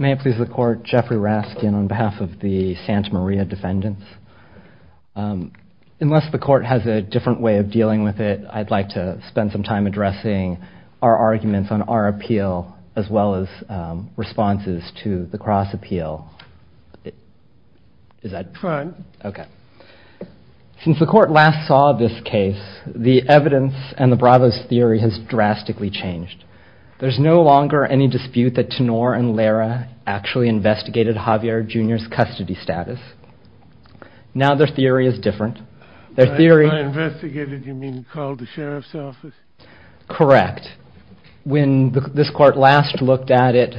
May it please the Court, Jeffrey Raskin on behalf of the Santa Maria defendants. Unless the Court has a different way of dealing with it, I'd like to spend some time addressing our arguments on our appeal as well as responses to the cross-appeal. Since the Court last saw this case, the evidence and the Bravo's theory has drastically changed. There's no longer any dispute that Tenor and Lara actually investigated Javier Jr.'s custody status. Now their theory is different. By investigated you mean called the Sheriff's office? Correct. When this Court last looked at it,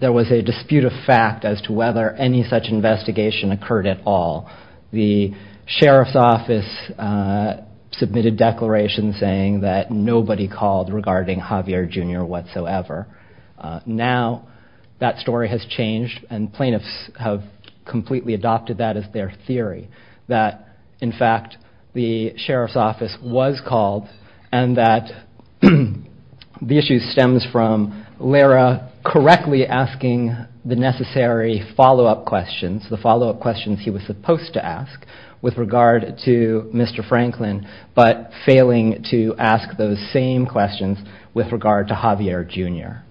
there was a dispute of fact as to whether any such investigation occurred at all. The Sheriff's office submitted declarations saying that nobody called regarding Javier Jr. whatsoever. Now that story has changed and plaintiffs have completely adopted that as their theory. That in fact the Sheriff's office was called and that the issue stems from Lara correctly asking the necessary follow-up questions, the follow-up questions he was supposed to ask with regard to Mr. Franklin but failing to ask those same questions with regard to Javier Jr.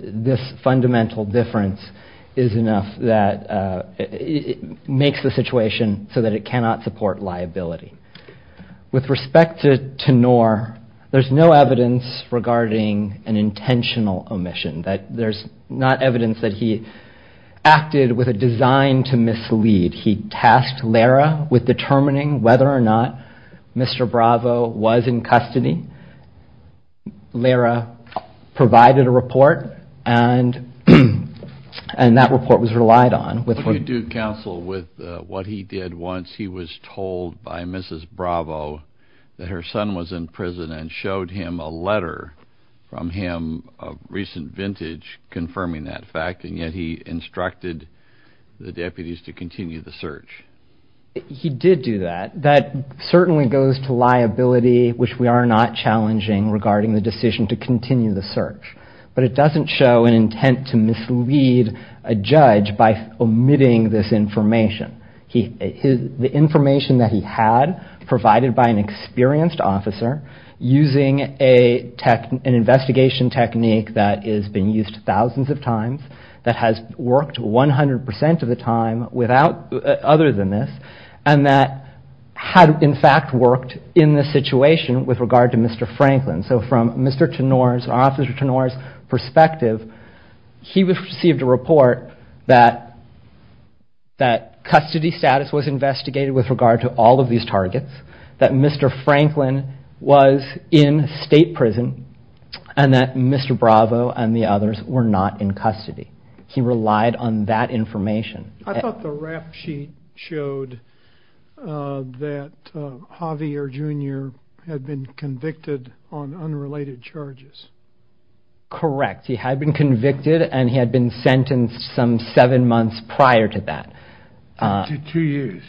This fundamental difference is enough that it makes the situation so that it cannot support liability. With respect to Tenor, there's no evidence regarding an intentional omission. There's not evidence that he acted with a design to mislead. He tasked Lara with determining whether or not Mr. Bravo was in custody. Lara provided a report and that report was relied on. You do counsel with what he did once. He was told by Mrs. Bravo that her son was in prison and showed him a letter from him of recent vintage confirming that fact and yet he instructed the deputies to continue the search. He did do that. That certainly goes to liability which we are not challenging regarding the decision to continue the search but it doesn't show an intent to mislead a judge by omitting this information. The information that he had provided by an experienced officer using an investigation technique that has been used thousands of times, that has worked 100% of the time other than this and that had in fact worked in this situation with regard to Mr. Franklin. So from Mr. Tenor's perspective, he received a report that custody status was investigated with regard to all of these targets, that Mr. Franklin was in state prison and that Mr. Bravo and the others were not in custody. He relied on that information. I thought the rap sheet showed that Javier Jr. had been convicted on unrelated charges. Correct. He had been convicted and he had been sentenced some seven months prior to that. To two years.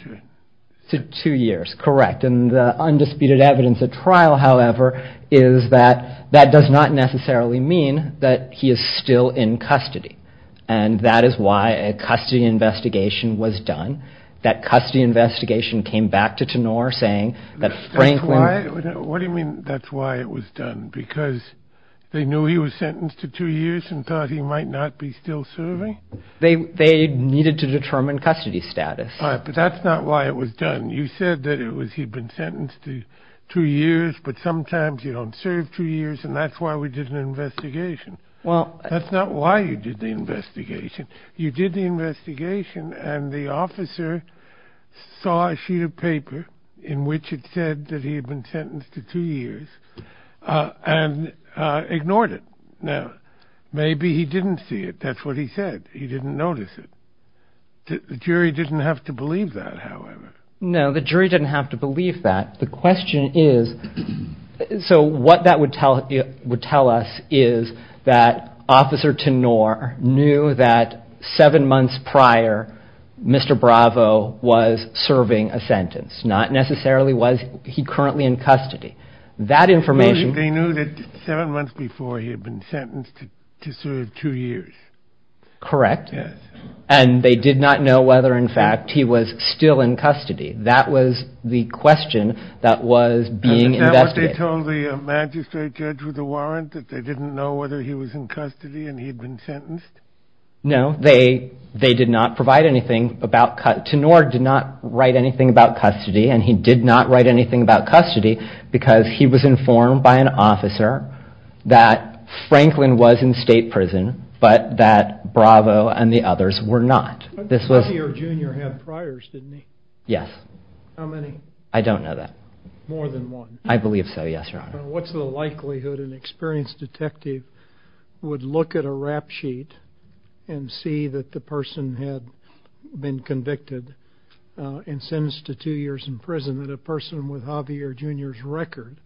To two years, correct. And the undisputed evidence at trial, however, is that that does not necessarily mean that he is still in custody and that is why a custody investigation was done. That custody investigation came back to Tenor saying that Franklin... What do you mean that's why it was done? Because they knew he was sentenced to two years and thought he might not be still serving? They needed to determine custody status. But that's not why it was done. You said that he had been sentenced to two years, but sometimes you don't serve two years, and that's why we did an investigation. Well, that's not why you did the investigation. You did the investigation and the officer saw a sheet of paper in which it said that he had been sentenced to two years and ignored it. Now, maybe he didn't see it. That's what he said. He didn't notice it. The jury didn't have to believe that, however. No, the jury didn't have to believe that. The question is, so what that would tell us is that Officer Tenor knew that seven months prior, Mr. Bravo was serving a sentence. Not necessarily was he currently in custody. That information... They knew that seven months before he had been sentenced to serve two years. Correct. And they did not know whether, in fact, he was still in custody. That was the question that was being investigated. Is that what they told the magistrate judge with the warrant, that they didn't know whether he was in custody and he had been sentenced? No, they did not provide anything about custody. Tenor did not write anything about custody, and he did not write anything about custody because he was informed by an officer that Franklin was in state prison, but that Bravo and the others were not. Javier Jr. had priors, didn't he? Yes. How many? I don't know that. More than one. I believe so, yes, Your Honor. What's the likelihood an experienced detective would look at a rap sheet and see that the person had been convicted and sentenced to two years in prison and that a person with Javier Jr.'s record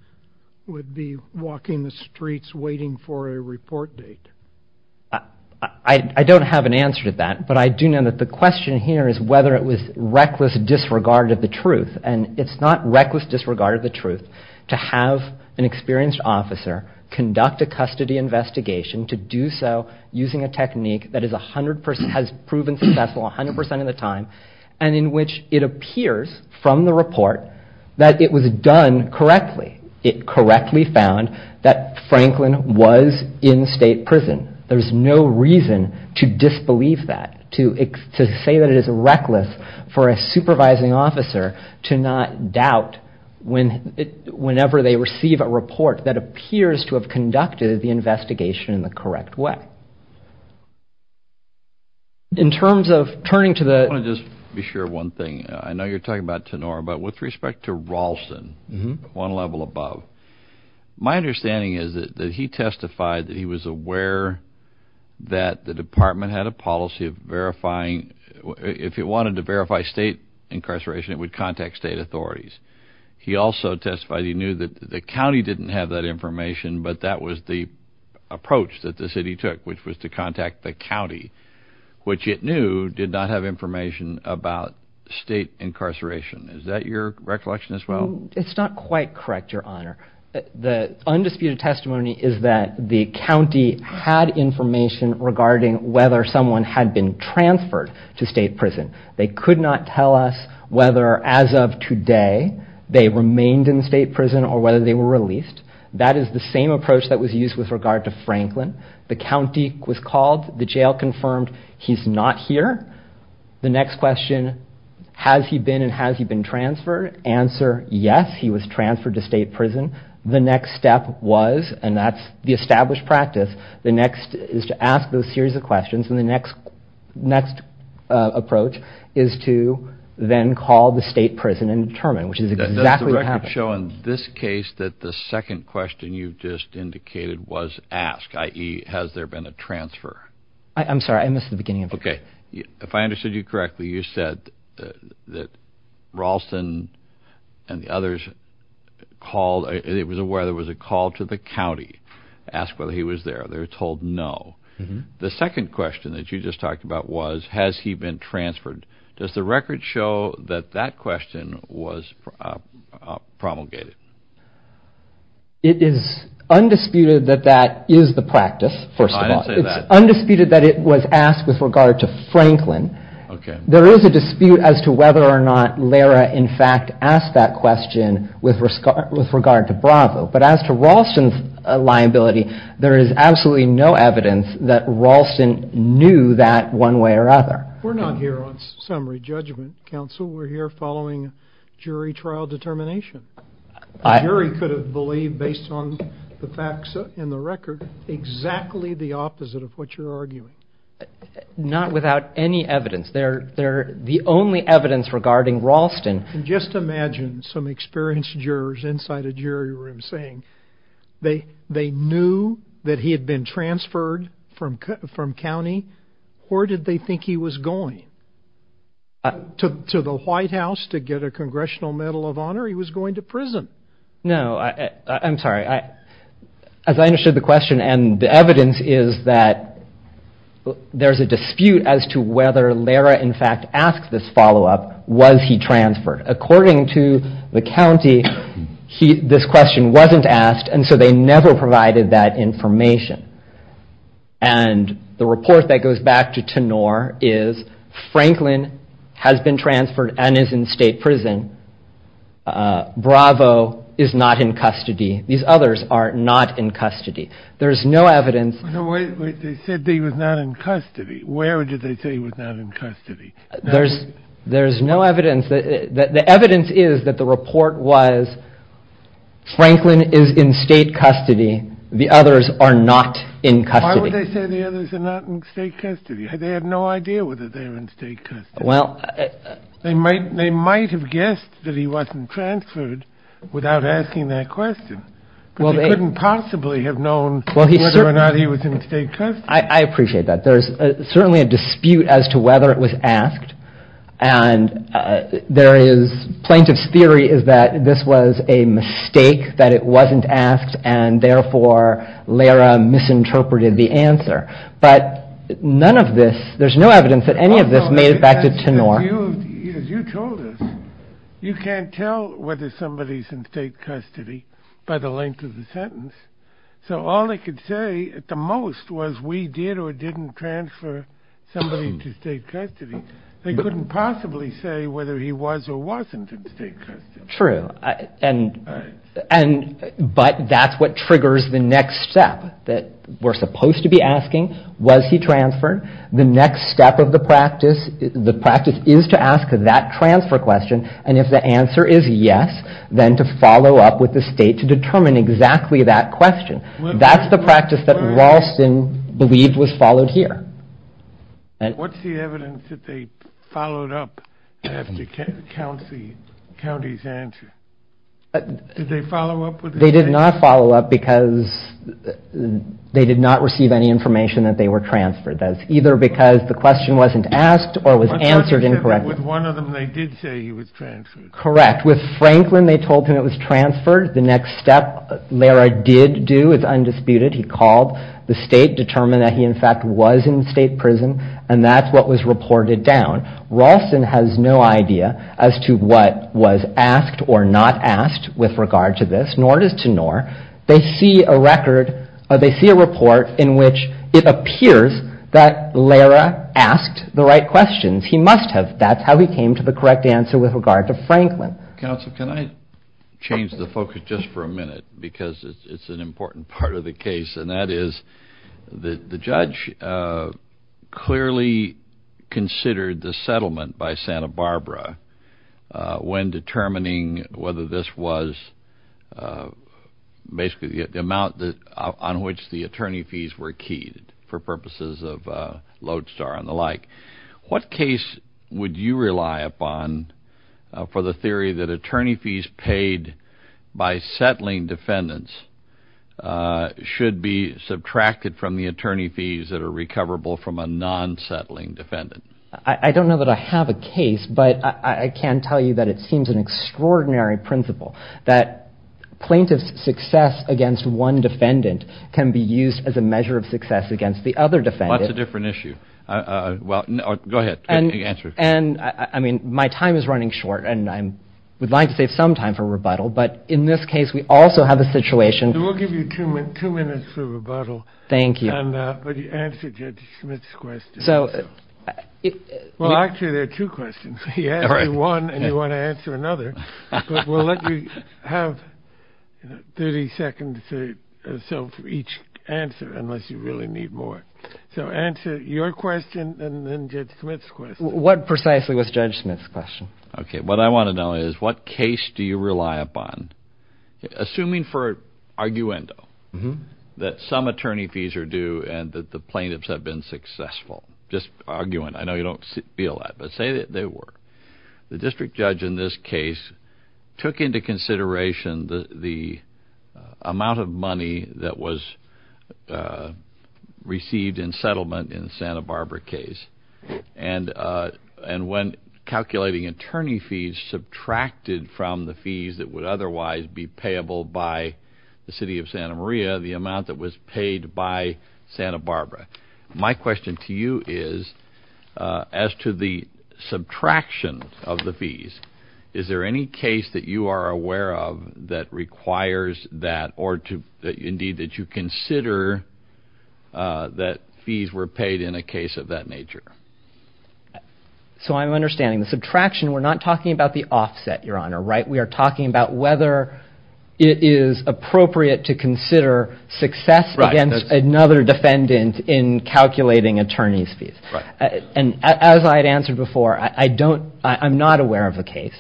would be walking the streets waiting for a report date? I don't have an answer to that, but I do know that the question here is whether it was reckless disregard of the truth, and it's not reckless disregard of the truth to have an experienced officer conduct a custody investigation to do so using a technique that has proven successful 100 percent of the time and in which it appears from the report that it was done correctly. It correctly found that Franklin was in state prison. There's no reason to disbelieve that, to say that it is reckless for a supervising officer to not doubt whenever they receive a report that appears to have conducted the investigation in the correct way. In terms of turning to the... I want to just be sure of one thing. I know you're talking about Tenor, but with respect to Ralston, one level above, my understanding is that he testified that he was aware that the department had a policy of verifying, if it wanted to verify state incarceration, it would contact state authorities. He also testified he knew that the county didn't have that information, but that was the approach that the city took, which was to contact the county, which it knew did not have information about state incarceration. Is that your recollection as well? It's not quite correct, Your Honor. The undisputed testimony is that the county had information regarding whether someone had been transferred to state prison. They could not tell us whether, as of today, they remained in state prison or whether they were released. That is the same approach that was used with regard to Franklin. The county was called. The jail confirmed he's not here. The next question, has he been and has he been transferred? Answer, yes, he was transferred to state prison. The next step was, and that's the established practice, the next is to ask those series of questions, and the next approach is to then call the state prison and determine, which is exactly what happened. Does the record show in this case that the second question you've just indicated was asked, i.e., has there been a transfer? I'm sorry, I missed the beginning of it. Okay. If I understood you correctly, you said that Ralston and the others called. It was aware there was a call to the county to ask whether he was there. They were told no. The second question that you just talked about was, has he been transferred? Does the record show that that question was promulgated? It is undisputed that that is the practice, first of all. I didn't say that. It's undisputed that it was asked with regard to Franklin. Okay. There is a dispute as to whether or not Lara, in fact, asked that question with regard to Bravo, but as to Ralston's liability, there is absolutely no evidence that Ralston knew that one way or other. We're not here on summary judgment, counsel. We're here following jury trial determination. A jury could have believed, based on the facts in the record, exactly the opposite of what you're arguing. Not without any evidence. The only evidence regarding Ralston. Just imagine some experienced jurors inside a jury room saying they knew that he had been transferred from county where did they think he was going? To the White House to get a Congressional Medal of Honor? He was going to prison. No. I'm sorry. As I understood the question and the evidence is that there's a dispute as to whether Lara, in fact, asked this follow-up, was he transferred? According to the county, this question wasn't asked, and so they never provided that information. And the report that goes back to Tenor is Franklin has been transferred and is in state prison. Bravo is not in custody. These others are not in custody. There's no evidence. Wait, they said he was not in custody. Where did they say he was not in custody? There's no evidence. The evidence is that the report was Franklin is in state custody. The others are not in custody. Why would they say the others are not in state custody? They have no idea whether they're in state custody. They might have guessed that he wasn't transferred without asking that question. But they couldn't possibly have known whether or not he was in state custody. I appreciate that. There's certainly a dispute as to whether it was asked. And plaintiff's theory is that this was a mistake, that it wasn't asked, and therefore Lara misinterpreted the answer. But none of this, there's no evidence that any of this made it back to Tenor. As you told us, you can't tell whether somebody's in state custody by the length of the sentence. So all they could say at the most was we did or didn't transfer somebody to state custody. They couldn't possibly say whether he was or wasn't in state custody. True. But that's what triggers the next step that we're supposed to be asking, was he transferred? The next step of the practice, the practice is to ask that transfer question. And if the answer is yes, then to follow up with the state to determine exactly that question. That's the practice that Ralston believed was followed here. What's the evidence that they followed up after county's answer? Did they follow up with the state? They did not follow up because they did not receive any information that they were transferred. That's either because the question wasn't asked or was answered incorrectly. With one of them, they did say he was transferred. Correct. With Franklin, they told him it was transferred. The next step Lara did do is undisputed. He called the state, determined that he in fact was in state prison. And that's what was reported down. Ralston has no idea as to what was asked or not asked with regard to this. Nor does Tenor. They see a record or they see a report in which it appears that Lara asked the right questions. He must have. That's how he came to the correct answer with regard to Franklin. Counsel, can I change the focus just for a minute because it's an important part of the case, and that is the judge clearly considered the settlement by Santa Barbara when determining whether this was basically the amount on which the attorney fees were keyed for purposes of Lodestar and the like. What case would you rely upon for the theory that attorney fees paid by settling defendants should be subtracted from the attorney fees that are recoverable from a non-settling defendant? I don't know that I have a case, but I can tell you that it seems an extraordinary principle that plaintiff's success against one defendant can be used as a measure of success against the other defendant. Well, that's a different issue. Well, go ahead. And I mean, my time is running short and I would like to save some time for rebuttal. But in this case, we also have a situation. We'll give you two minutes for rebuttal. Thank you. But you answered Judge Smith's question. Well, actually, there are two questions. He asked you one and you want to answer another, but we'll let you have 30 seconds or so for each answer unless you really need more. So answer your question and then Judge Smith's question. What precisely was Judge Smith's question? Okay. What I want to know is what case do you rely upon? Assuming for arguendo that some attorney fees are due and that the plaintiffs have been successful, just arguing. I know you don't feel that, but say that they were. The district judge in this case took into consideration the amount of money that was received in settlement in the Santa Barbara case. And when calculating attorney fees, subtracted from the fees that would otherwise be payable by the city of Santa Maria the amount that was paid by Santa Barbara. My question to you is as to the subtraction of the fees, is there any case that you are aware of that requires that or indeed that you consider that fees were paid in a case of that nature? So I'm understanding the subtraction. We're not talking about the offset, Your Honor, right? We are talking about whether it is appropriate to consider success against another defendant in calculating attorney fees. And as I had answered before, I don't, I'm not aware of a case.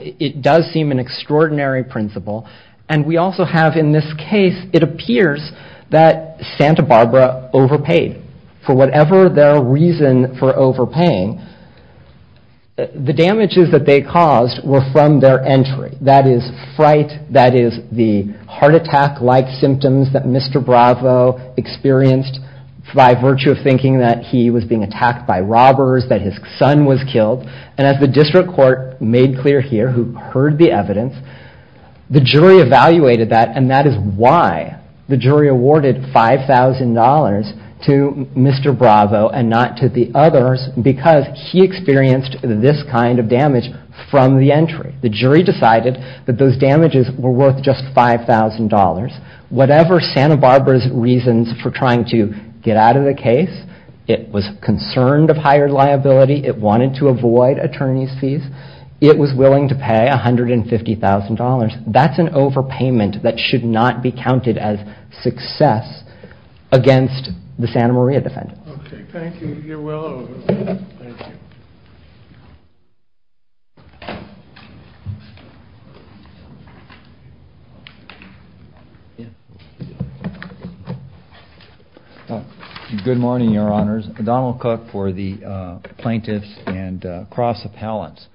It does seem an extraordinary principle. And we also have in this case, it appears that Santa Barbara overpaid for whatever their reason for overpaying. The damages that they caused were from their entry. That is fright. That is the heart attack-like symptoms that Mr. Bravo experienced by virtue of thinking that he was being attacked by robbers, that his son was killed. And as the district court made clear here, who heard the evidence, the jury evaluated that. And that is why the jury awarded $5,000 to Mr. Bravo and not to the others, because he experienced this kind of damage from the entry. The jury decided that those damages were worth just $5,000. Whatever Santa Barbara's reasons for trying to get out of the case, it was concerned of higher liability. It wanted to avoid attorney's fees. It was willing to pay $150,000. That's an overpayment that should not be counted as success against the Santa Maria defendants. Okay, thank you. You're well over. Thank you. Good morning, Your Honors. Donald Cook for the plaintiffs and cross appellants.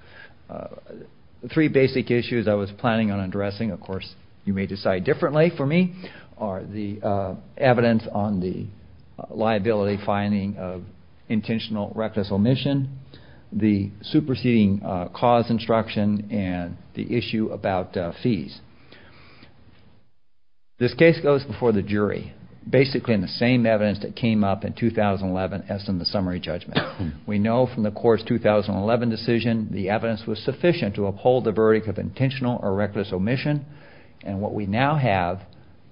The three basic issues I was planning on addressing, of course, you may decide differently for me, are the evidence on the liability finding of intentional reckless omission, the superseding cause instruction, and the issue about fees. This case goes before the jury, basically in the same evidence that came up in 2011 as in the summary judgment. We know from the court's 2011 decision the evidence was sufficient to uphold the verdict of intentional or reckless omission, and what we now have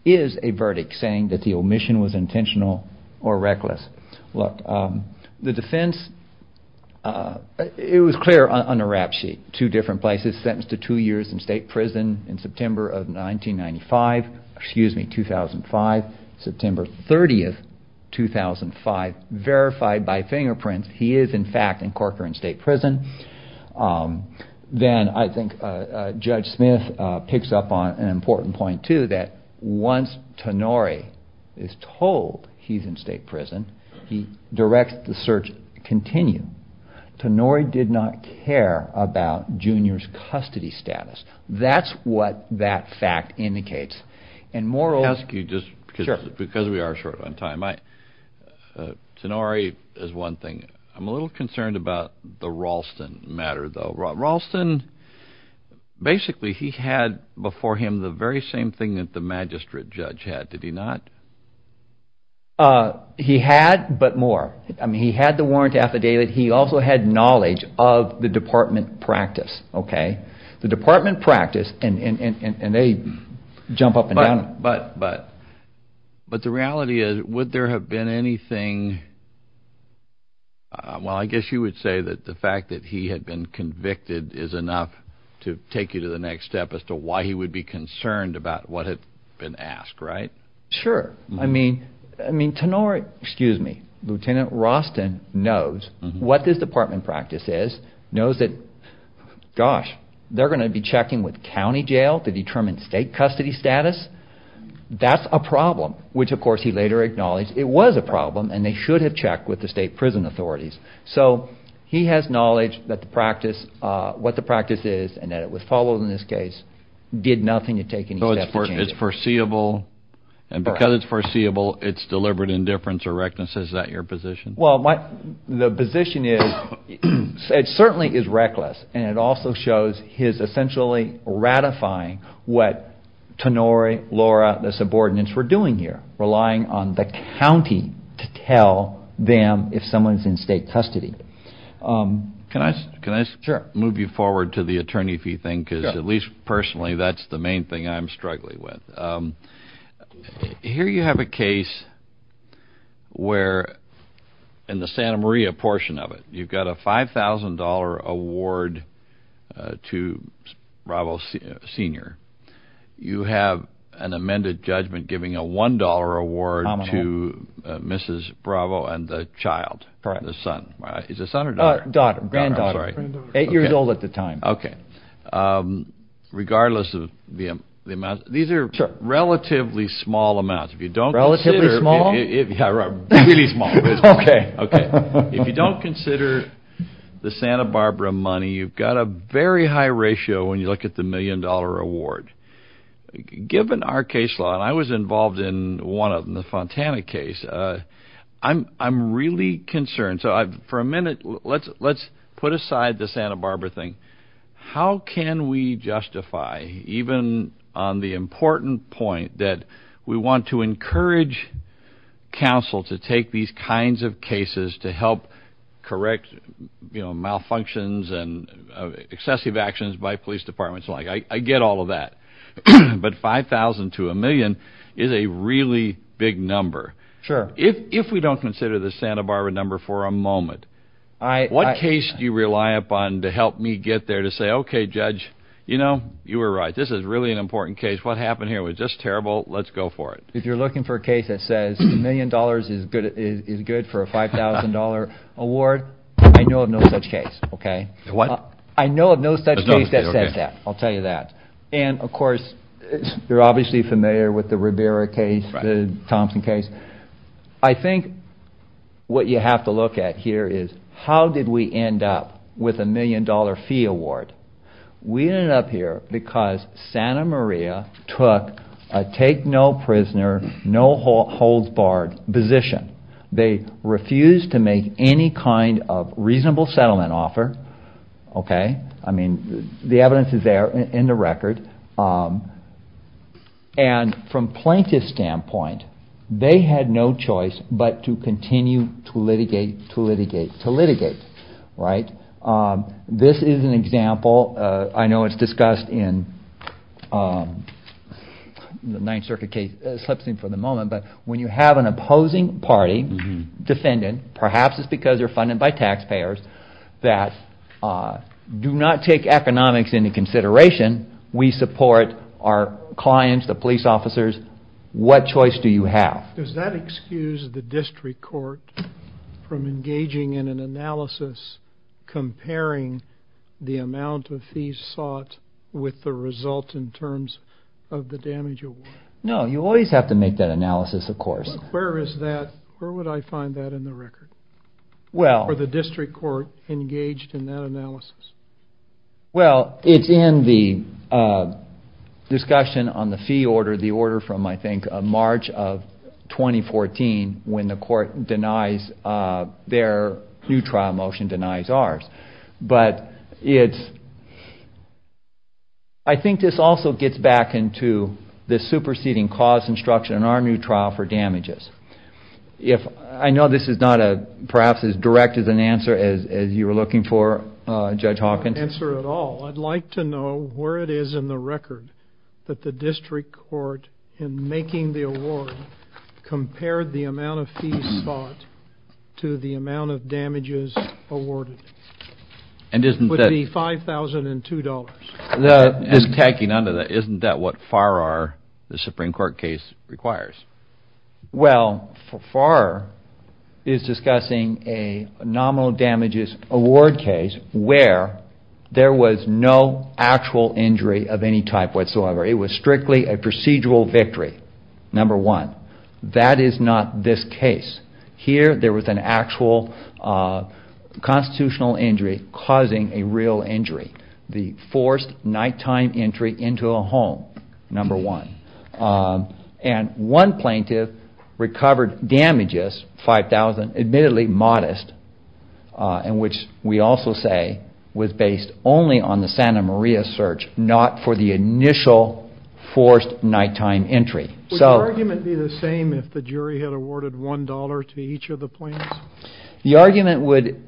is a verdict saying that the omission was intentional or reckless. Look, the defense, it was clear on the rap sheet. Two different places, sentenced to two years in state prison in September of 1995, excuse me, 2005. September 30th, 2005, verified by fingerprints, he is, in fact, in Corcoran State Prison. Then I think Judge Smith picks up on an important point, too, that once Tonori is told he's in state prison, he directs the search to continue. Tonori did not care about Junior's custody status. That's what that fact indicates. I'll ask you just because we are short on time. Tonori is one thing. I'm a little concerned about the Ralston matter, though. Ralston, basically he had before him the very same thing that the magistrate judge had, did he not? He had, but more. He had the warrant affidavit. He also had knowledge of the department practice. The department practice, and they jump up and down. But the reality is, would there have been anything, well, I guess you would say that the fact that he had been convicted is enough to take you to the next step as to why he would be concerned about what had been asked, right? Sure. I mean, Tonori, excuse me, Lieutenant Ralston knows what this department practice is, knows that, gosh, they're going to be checking with county jail to determine state custody status? That's a problem, which, of course, he later acknowledged it was a problem, and they should have checked with the state prison authorities. So he has knowledge that the practice, what the practice is, and that it was followed in this case, did nothing to take any steps to change it. It's foreseeable, and because it's foreseeable, it's deliberate indifference or recklessness. Is that your position? Well, the position is, it certainly is reckless, and it also shows his essentially ratifying what Tonori, Laura, the subordinates were doing here, relying on the county to tell them if someone's in state custody. Can I move you forward to the attorney fee thing? Because at least personally, that's the main thing I'm struggling with. Here you have a case where, in the Santa Maria portion of it, you've got a $5,000 award to Bravo Sr. You have an amended judgment giving a $1 award to Mrs. Bravo and the child, the son. Is it son or daughter? Daughter, granddaughter. Sorry. Eight years old at the time. Okay. Regardless of the amount, these are relatively small amounts. Relatively small? Really small. Okay. Okay. If you don't consider the Santa Barbara money, you've got a very high ratio when you look at the million-dollar award. Given our case law, and I was involved in one of them, the Fontana case, I'm really concerned. So for a minute, let's put aside the Santa Barbara thing. How can we justify, even on the important point that we want to encourage counsel to take these kinds of cases to help correct, you know, malfunctions and excessive actions by police departments and the like? I get all of that. But $5,000 to a million is a really big number. Sure. If we don't consider the Santa Barbara number for a moment, what case do you rely upon to help me get there to say, okay, judge, you know, you were right. This is really an important case. What happened here was just terrible. Let's go for it. If you're looking for a case that says a million dollars is good for a $5,000 award, I know of no such case, okay? What? I know of no such case that says that. I'll tell you that. And, of course, you're obviously familiar with the Rivera case, the Thompson case. I think what you have to look at here is how did we end up with a million-dollar fee award? We ended up here because Santa Maria took a take-no-prisoner, no-holds-barred position. They refused to make any kind of reasonable settlement offer, okay? I mean, the evidence is there in the record. And from plaintiff's standpoint, they had no choice but to continue to litigate, to litigate, to litigate, right? This is an example. I know it's discussed in the Ninth Circuit case. It slips in for the moment. But when you have an opposing party defendant, perhaps it's because they're funded by taxpayers, that do not take economics into consideration, we support our clients, the police officers. What choice do you have? Does that excuse the district court from engaging in an analysis comparing the amount of fees sought with the result in terms of the damage award? No, you always have to make that analysis, of course. Where is that? Where would I find that in the record? Were the district court engaged in that analysis? Well, it's in the discussion on the fee order, the order from, I think, March of 2014, when the court denies their new trial motion denies ours. But I think this also gets back into the superseding cause instruction in our new trial for damages. I know this is not perhaps as direct as an answer as you were looking for, Judge Hawkins. Answer at all. I'd like to know where it is in the record that the district court, in making the award, compared the amount of fees sought to the amount of damages awarded. It would be $5,002. And tacking onto that, isn't that what Farrar, the Supreme Court case, requires? Well, Farrar is discussing a nominal damages award case where there was no actual injury of any type whatsoever. It was strictly a procedural victory, number one. That is not this case. Here, there was an actual constitutional injury causing a real injury. The forced nighttime entry into a home, number one. And one plaintiff recovered damages, $5,000, admittedly modest, and which we also say was based only on the Santa Maria search, not for the initial forced nighttime entry. Would the argument be the same if the jury had awarded $1 to each of the plaintiffs? The argument would,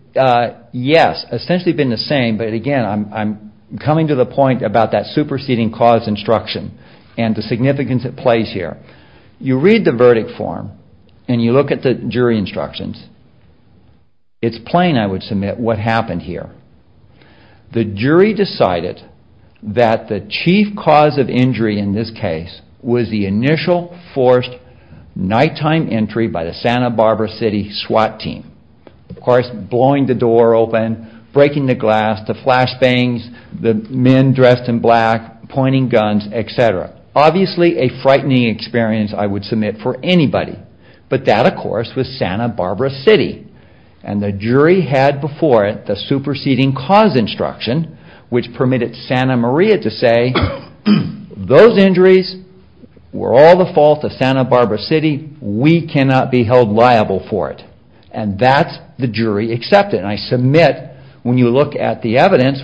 yes, essentially have been the same, but again, I'm coming to the point about that superseding cause instruction and the significance it plays here. You read the verdict form and you look at the jury instructions. It's plain, I would submit, what happened here. The jury decided that the chief cause of injury in this case was the initial forced nighttime entry by the Santa Barbara City SWAT team. Of course, blowing the door open, breaking the glass, the flashbangs, the men dressed in black, pointing guns, etc. Obviously a frightening experience I would submit for anybody. But that, of course, was Santa Barbara City. And the jury had before it the superseding cause instruction, which permitted Santa Maria to say, those injuries were all the fault of Santa Barbara City. We cannot be held liable for it. And that's the jury accepted. And I submit, when you look at the evidence,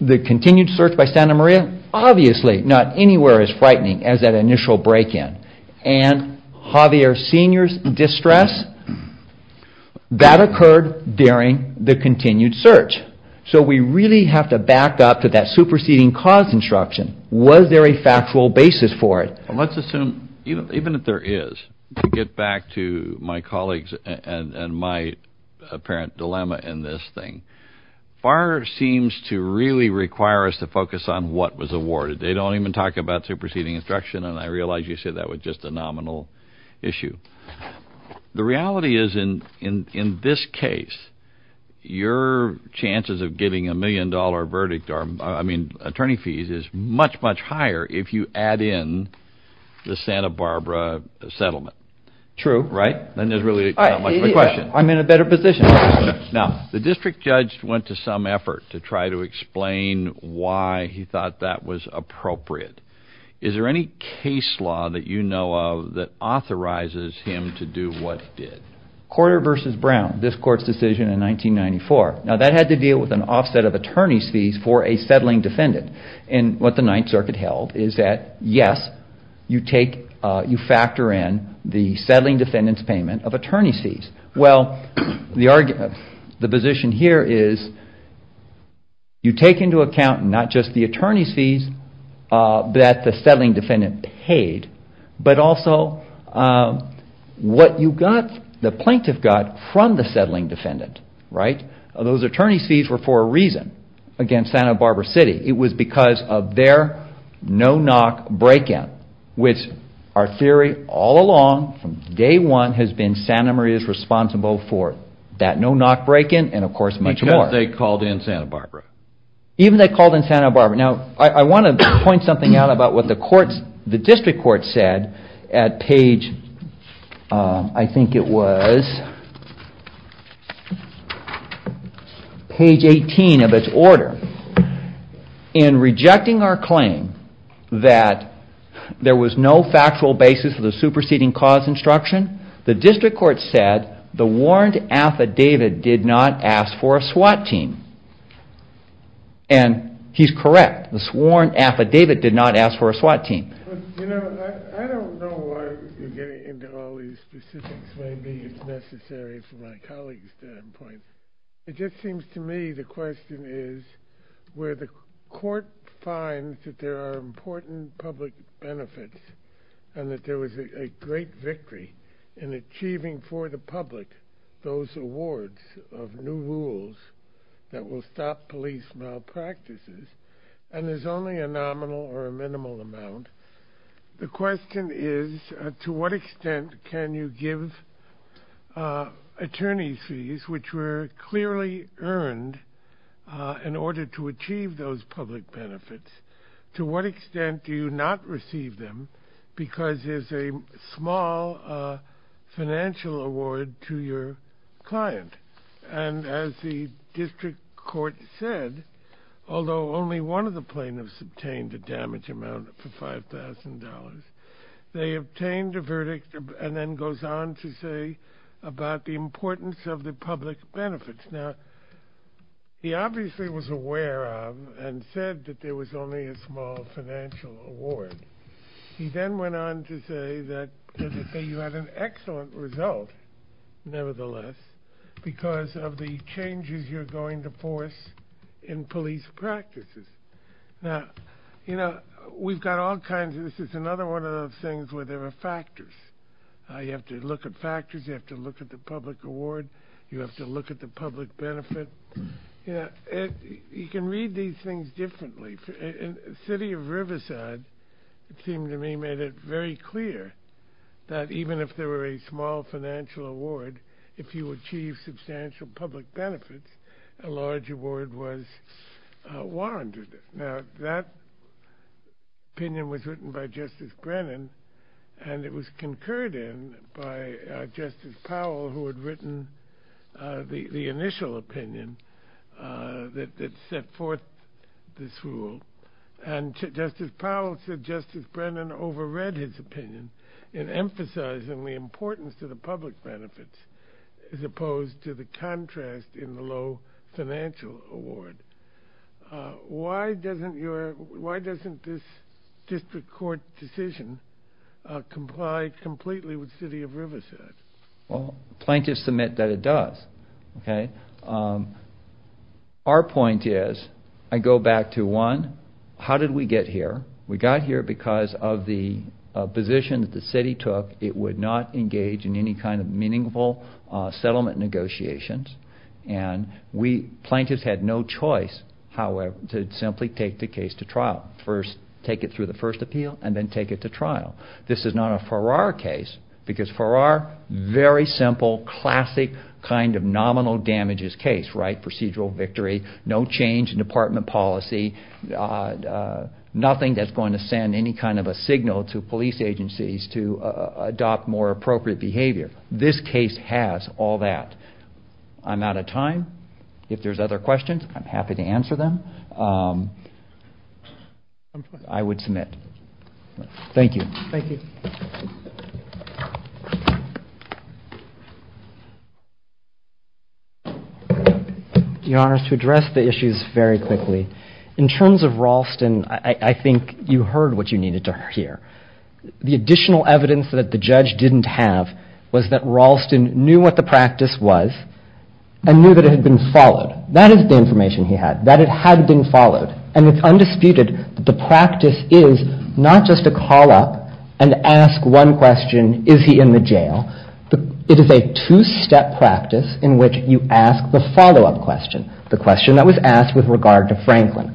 the continued search by Santa Maria, obviously not anywhere as frightening as that initial break-in. And Javier Sr.'s distress, that occurred during the continued search. So we really have to back up to that superseding cause instruction. Was there a factual basis for it? Let's assume, even if there is, to get back to my colleagues and my apparent dilemma in this thing, FAR seems to really require us to focus on what was awarded. They don't even talk about superseding instruction, and I realize you said that was just a nominal issue. The reality is, in this case, your chances of getting a million-dollar verdict or, I mean, attorney fees, is much, much higher if you add in the Santa Barbara settlement. True. Right? Then there's really not much of a question. I'm in a better position. Now, the district judge went to some effort to try to explain why he thought that was appropriate. Is there any case law that you know of that authorizes him to do what he did? Corder v. Brown, this Court's decision in 1994. Now, that had to deal with an offset of attorney's fees for a settling defendant. And what the Ninth Circuit held is that, yes, you factor in the settling defendant's payment of attorney's fees. Well, the position here is you take into account not just the attorney's fees that the settling defendant paid, but also what you got, the plaintiff got, from the settling defendant. Right? Those attorney's fees were for a reason against Santa Barbara City. It was because of their no-knock break-in, which our theory all along, from day one, has been Santa Maria's responsible for that no-knock break-in and, of course, much more. Because they called in Santa Barbara. Even they called in Santa Barbara. Now, I want to point something out about what the District Court said at page, I think it was, page 18 of its order. In rejecting our claim that there was no factual basis for the superseding cause instruction, the District Court said the warrant affidavit did not ask for a SWAT team. And he's correct. The sworn affidavit did not ask for a SWAT team. You know, I don't know why you're getting into all these specifics. Maybe it's necessary from my colleague's standpoint. It just seems to me the question is where the court finds that there are important public benefits and that there was a great victory in achieving for the public those awards of new rules that will stop police malpractices. And there's only a nominal or a minimal amount. The question is to what extent can you give attorney's fees, which were clearly earned in order to achieve those public benefits. To what extent do you not receive them because there's a small financial award to your client. And as the District Court said, although only one of the plaintiffs obtained a damage amount for $5,000, they obtained a verdict and then goes on to say about the importance of the public benefits. Now, he obviously was aware of and said that there was only a small financial award. He then went on to say that you had an excellent result, nevertheless, because of the changes you're going to force in police practices. Now, you know, we've got all kinds of – this is another one of those things where there are factors. You have to look at factors. You have to look at the public award. You have to look at the public benefit. You know, you can read these things differently. The city of Riverside, it seemed to me, made it very clear that even if there were a small financial award, if you achieve substantial public benefits, a large award was warranted. Now, that opinion was written by Justice Brennan, and it was concurred in by Justice Powell, who had written the initial opinion that set forth this rule. And Justice Powell said Justice Brennan overread his opinion in emphasizing the importance to the public benefits as opposed to the contrast in the low financial award. Why doesn't your – why doesn't this district court decision comply completely with city of Riverside? Well, plaintiffs submit that it does. Okay? Our point is – I go back to one. How did we get here? We got here because of the position that the city took. It would not engage in any kind of meaningful settlement negotiations. And we – plaintiffs had no choice, however, to simply take the case to trial. First, take it through the first appeal, and then take it to trial. This is not a Farrar case, because Farrar, very simple, classic kind of nominal damages case, right? Procedural victory, no change in department policy, nothing that's going to send any kind of a signal to police agencies to adopt more appropriate behavior. This case has all that. I'm out of time. If there's other questions, I'm happy to answer them. I would submit. Thank you. Thank you. Your Honor, to address the issues very quickly. In terms of Ralston, I think you heard what you needed to hear. The additional evidence that the judge didn't have was that Ralston knew what the practice was and knew that it had been followed. That is the information he had, that it had been followed. And it's undisputed that the practice is not just a call-up and ask one question, is he in the jail? It is a two-step practice in which you ask the follow-up question, the question that was asked with regard to Franklin.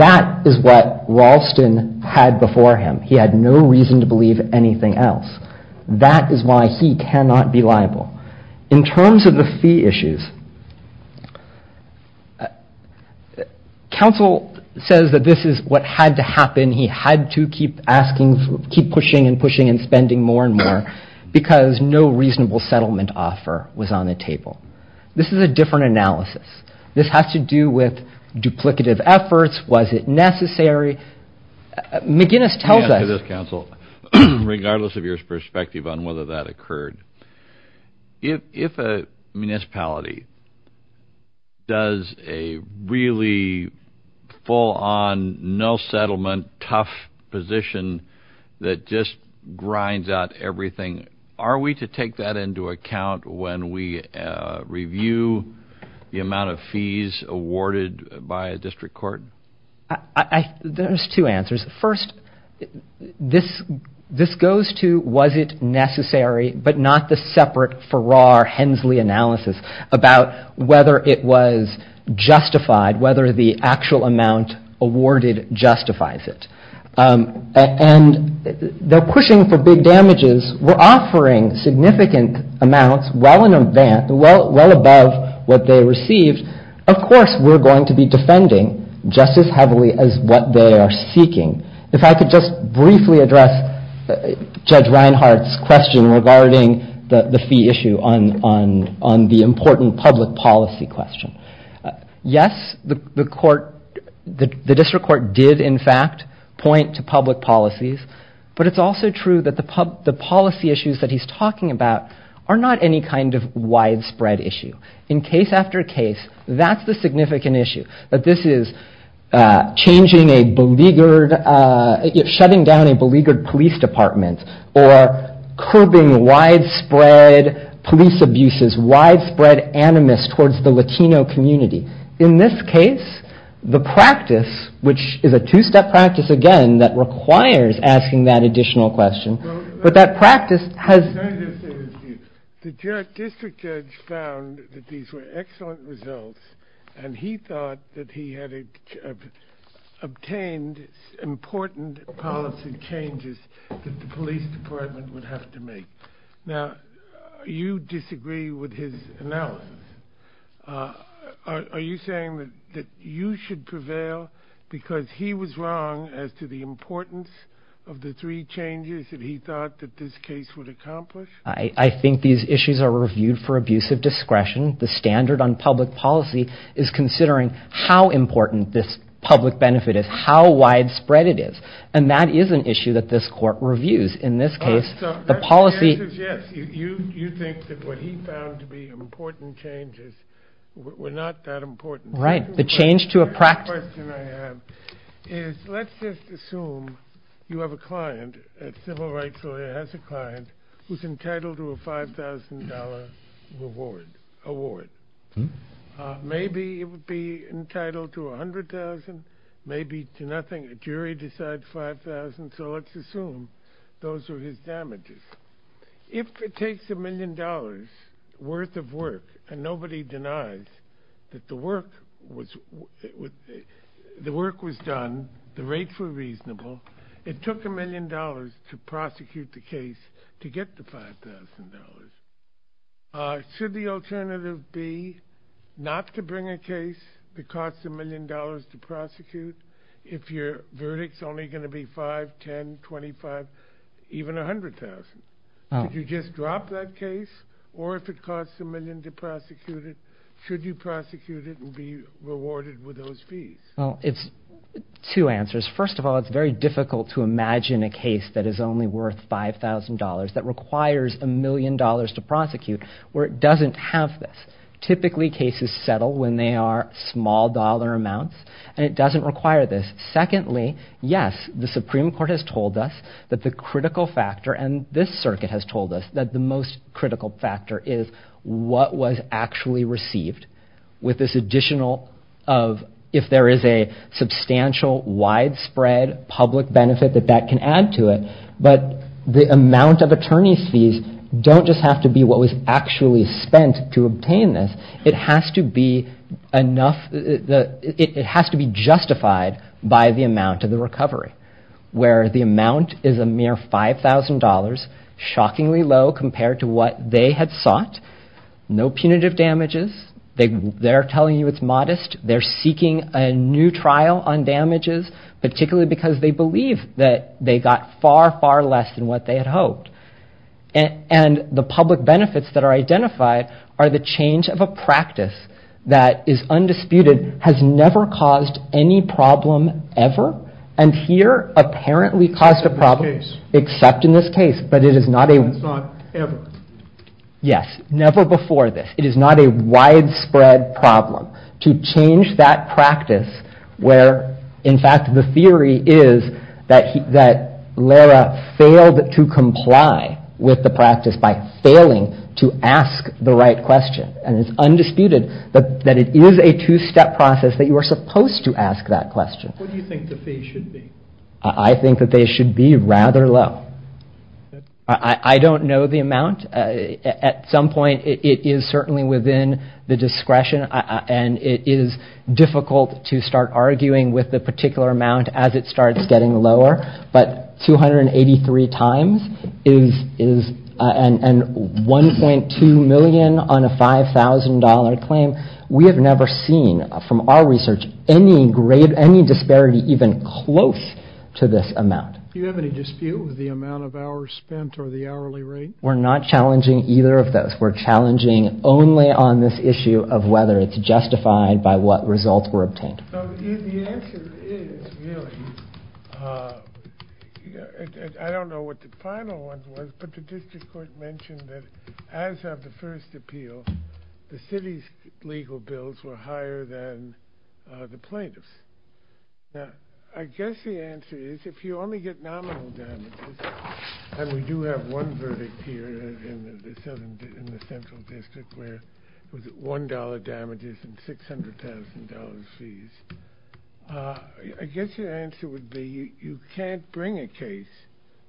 That is what Ralston had before him. He had no reason to believe anything else. That is why he cannot be liable. In terms of the fee issues, counsel says that this is what had to happen. He had to keep asking, keep pushing and pushing and spending more and more because no reasonable settlement offer was on the table. This is a different analysis. This has to do with duplicative efforts. Was it necessary? McGinnis tells us. Counsel, regardless of your perspective on whether that occurred, if a municipality does a really full-on no-settlement, tough position that just grinds out everything, are we to take that into account when we review the amount of fees awarded by a district court? There's two answers. First, this goes to was it necessary, but not the separate Farrar-Hensley analysis about whether it was justified, whether the actual amount awarded justifies it. And they're pushing for big damages. We're offering significant amounts well above what they received. Of course, we're going to be defending just as heavily as what they are seeking. If I could just briefly address Judge Reinhart's question regarding the fee issue on the important public policy question. Yes, the district court did, in fact, point to public policies, but it's also true that the policy issues that he's talking about are not any kind of widespread issue. In case after case, that's the significant issue, that this is shutting down a beleaguered police department or curbing widespread police abuses, widespread animus towards the Latino community. In this case, the practice, which is a two-step practice, again, that requires asking that additional question, but that practice has... Let me just say this to you. The district judge found that these were excellent results and he thought that he had obtained important policy changes that the police department would have to make. Now, you disagree with his analysis. Are you saying that you should prevail because he was wrong as to the importance of the three changes that he thought that this case would accomplish? I think these issues are reviewed for abuse of discretion. The standard on public policy is considering how important this public benefit is, how widespread it is, and that is an issue that this court reviews. That's the answer, yes. You think that what he found to be important changes were not that important. Right. The change to a practice... The question I have is let's just assume you have a client, a civil rights lawyer has a client who's entitled to a $5,000 reward, award. Maybe it would be entitled to $100,000, maybe to nothing. A jury decides $5,000, so let's assume those are his damages. If it takes $1 million worth of work and nobody denies that the work was done, the rates were reasonable, it took $1 million to prosecute the case to get the $5,000. Should the alternative be not to bring a case that costs $1 million to prosecute if your verdict's only going to be $5,000, $10,000, $25,000, even $100,000? Could you just drop that case? Or if it costs $1 million to prosecute it, should you prosecute it and be rewarded with those fees? Well, it's two answers. First of all, it's very difficult to imagine a case that is only worth $5,000, that requires $1 million to prosecute, where it doesn't have this. Typically cases settle when they are small dollar amounts, and it doesn't require this. Secondly, yes, the Supreme Court has told us that the critical factor, and this circuit has told us that the most critical factor is what was actually received with this additional of if there is a substantial widespread public benefit that that can add to it, but the amount of attorney's fees don't just have to be what was actually spent to obtain this. It has to be justified by the amount of the recovery, where the amount is a mere $5,000, shockingly low compared to what they had sought. No punitive damages. They're telling you it's modest. They're seeking a new trial on damages, particularly because they believe that they got far, far less than what they had hoped. And the public benefits that are identified are the change of a practice that is undisputed, has never caused any problem ever, and here apparently caused a problem, except in this case, but it is not a... It's not ever. Yes, never before this. It is not a widespread problem to change that practice where, in fact, the theory is that Lara failed to comply with the practice by failing to ask the right question, and it's undisputed that it is a two-step process that you are supposed to ask that question. What do you think the fee should be? I think that they should be rather low. I don't know the amount. At some point it is certainly within the discretion, and it is difficult to start arguing with the particular amount as it starts getting lower, but 283 times is 1.2 million on a $5,000 claim. We have never seen, from our research, any disparity even close to this amount. Do you have any dispute with the amount of hours spent or the hourly rate? We're not challenging either of those. We're challenging only on this issue of whether it's justified by what results were obtained. The answer is really, I don't know what the final one was, but the district court mentioned that as of the first appeal, the city's legal bills were higher than the plaintiff's. I guess the answer is, if you only get nominal damages, and we do have one verdict here in the Central District, where it was $1 damages and $600,000 fees, I guess your answer would be you can't bring a case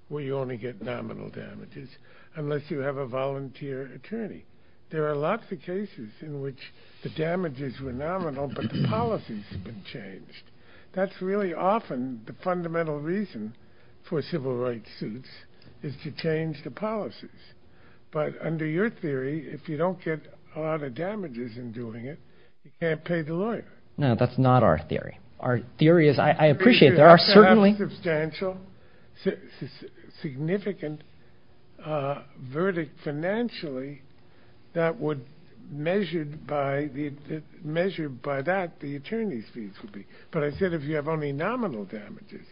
where you only get nominal damages unless you have a volunteer attorney. There are lots of cases in which the damages were nominal, but the policies have been changed. That's really often the fundamental reason for civil rights suits, is to change the policies. But under your theory, if you don't get a lot of damages in doing it, you can't pay the lawyer. No, that's not our theory. Our theory is, I appreciate it, there are certainly... a verdict financially that would measure by that the attorney's fees would be. But I said if you have only nominal damages,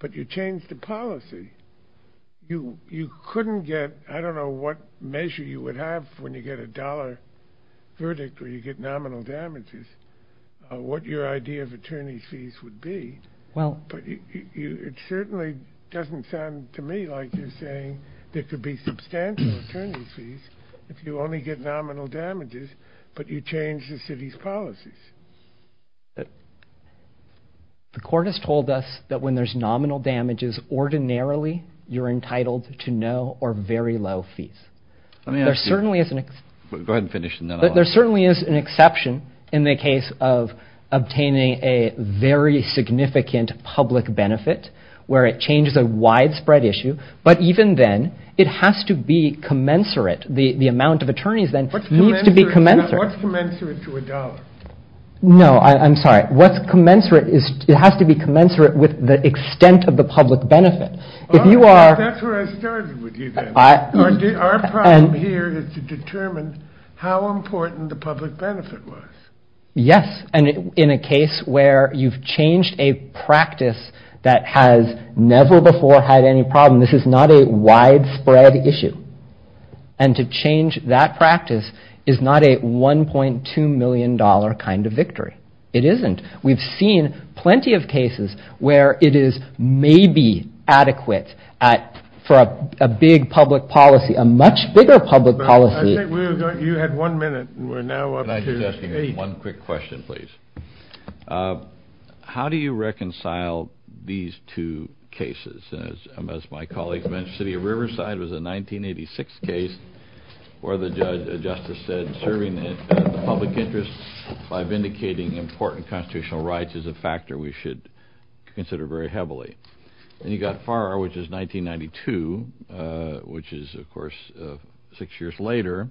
but you change the policy, you couldn't get, I don't know what measure you would have when you get a dollar verdict where you get nominal damages, what your idea of attorney's fees would be. It certainly doesn't sound to me like you're saying there could be substantial attorney's fees if you only get nominal damages, but you change the city's policies. The court has told us that when there's nominal damages, ordinarily you're entitled to no or very low fees. Let me ask you... Go ahead and finish and then I'll... There certainly is an exception in the case of obtaining a very significant public benefit where it changes a widespread issue, but even then, it has to be commensurate. The amount of attorneys then needs to be commensurate. What's commensurate to a dollar? No, I'm sorry. What's commensurate is... It has to be commensurate with the extent of the public benefit. If you are... That's where I started with you then. Our problem here is to determine how important the public benefit was. Yes, and in a case where you've changed a practice that has never before had any problem, this is not a widespread issue. And to change that practice is not a $1.2 million kind of victory. It isn't. We've seen plenty of cases where it is maybe adequate for a big public policy, a much bigger public policy. You had one minute. We're now up to eight. One quick question, please. How do you reconcile these two cases? As my colleague mentioned, the city of Riverside was a 1986 case where the judge, the justice said, serving the public interest by vindicating important constitutional rights is a factor we should consider very heavily. And you've got Farrar, which is 1992, which is, of course, six years later,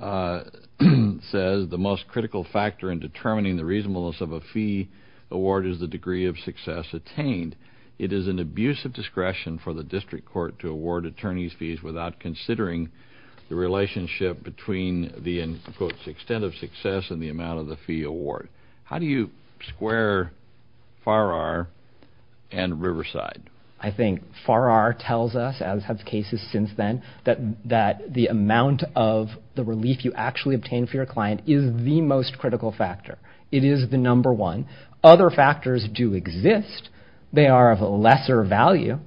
says the most critical factor in determining the reasonableness of a fee award is the degree of success attained. It is an abusive discretion for the district court to award attorneys fees without considering the relationship between the, in quotes, extent of success and the amount of the fee award. How do you square Farrar and Riverside? I think Farrar tells us, as have cases since then, that the amount of the relief you actually obtain for your client is the most critical factor. It is the number one. Other factors do exist. They are of a lesser value.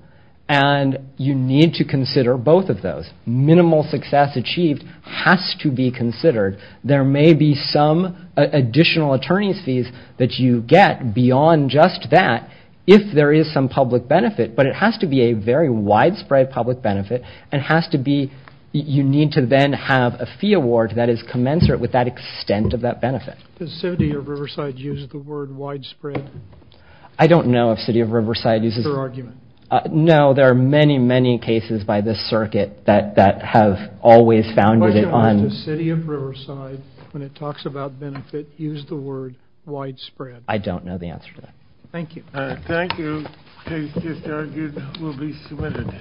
And you need to consider both of those. Minimal success achieved has to be considered. There may be some additional attorneys fees that you get beyond just that if there is some public benefit, but it has to be a very widespread public benefit. It has to be, you need to then have a fee award that is commensurate with that extent of that benefit. Does city of Riverside use the word widespread? I don't know if city of Riverside uses it. Is that your argument? No. There are many, many cases by this circuit that have always founded it on. The question was does city of Riverside, when it talks about benefit, use the word widespread? I don't know the answer to that. Thank you. Thank you. Case just argued will be submitted.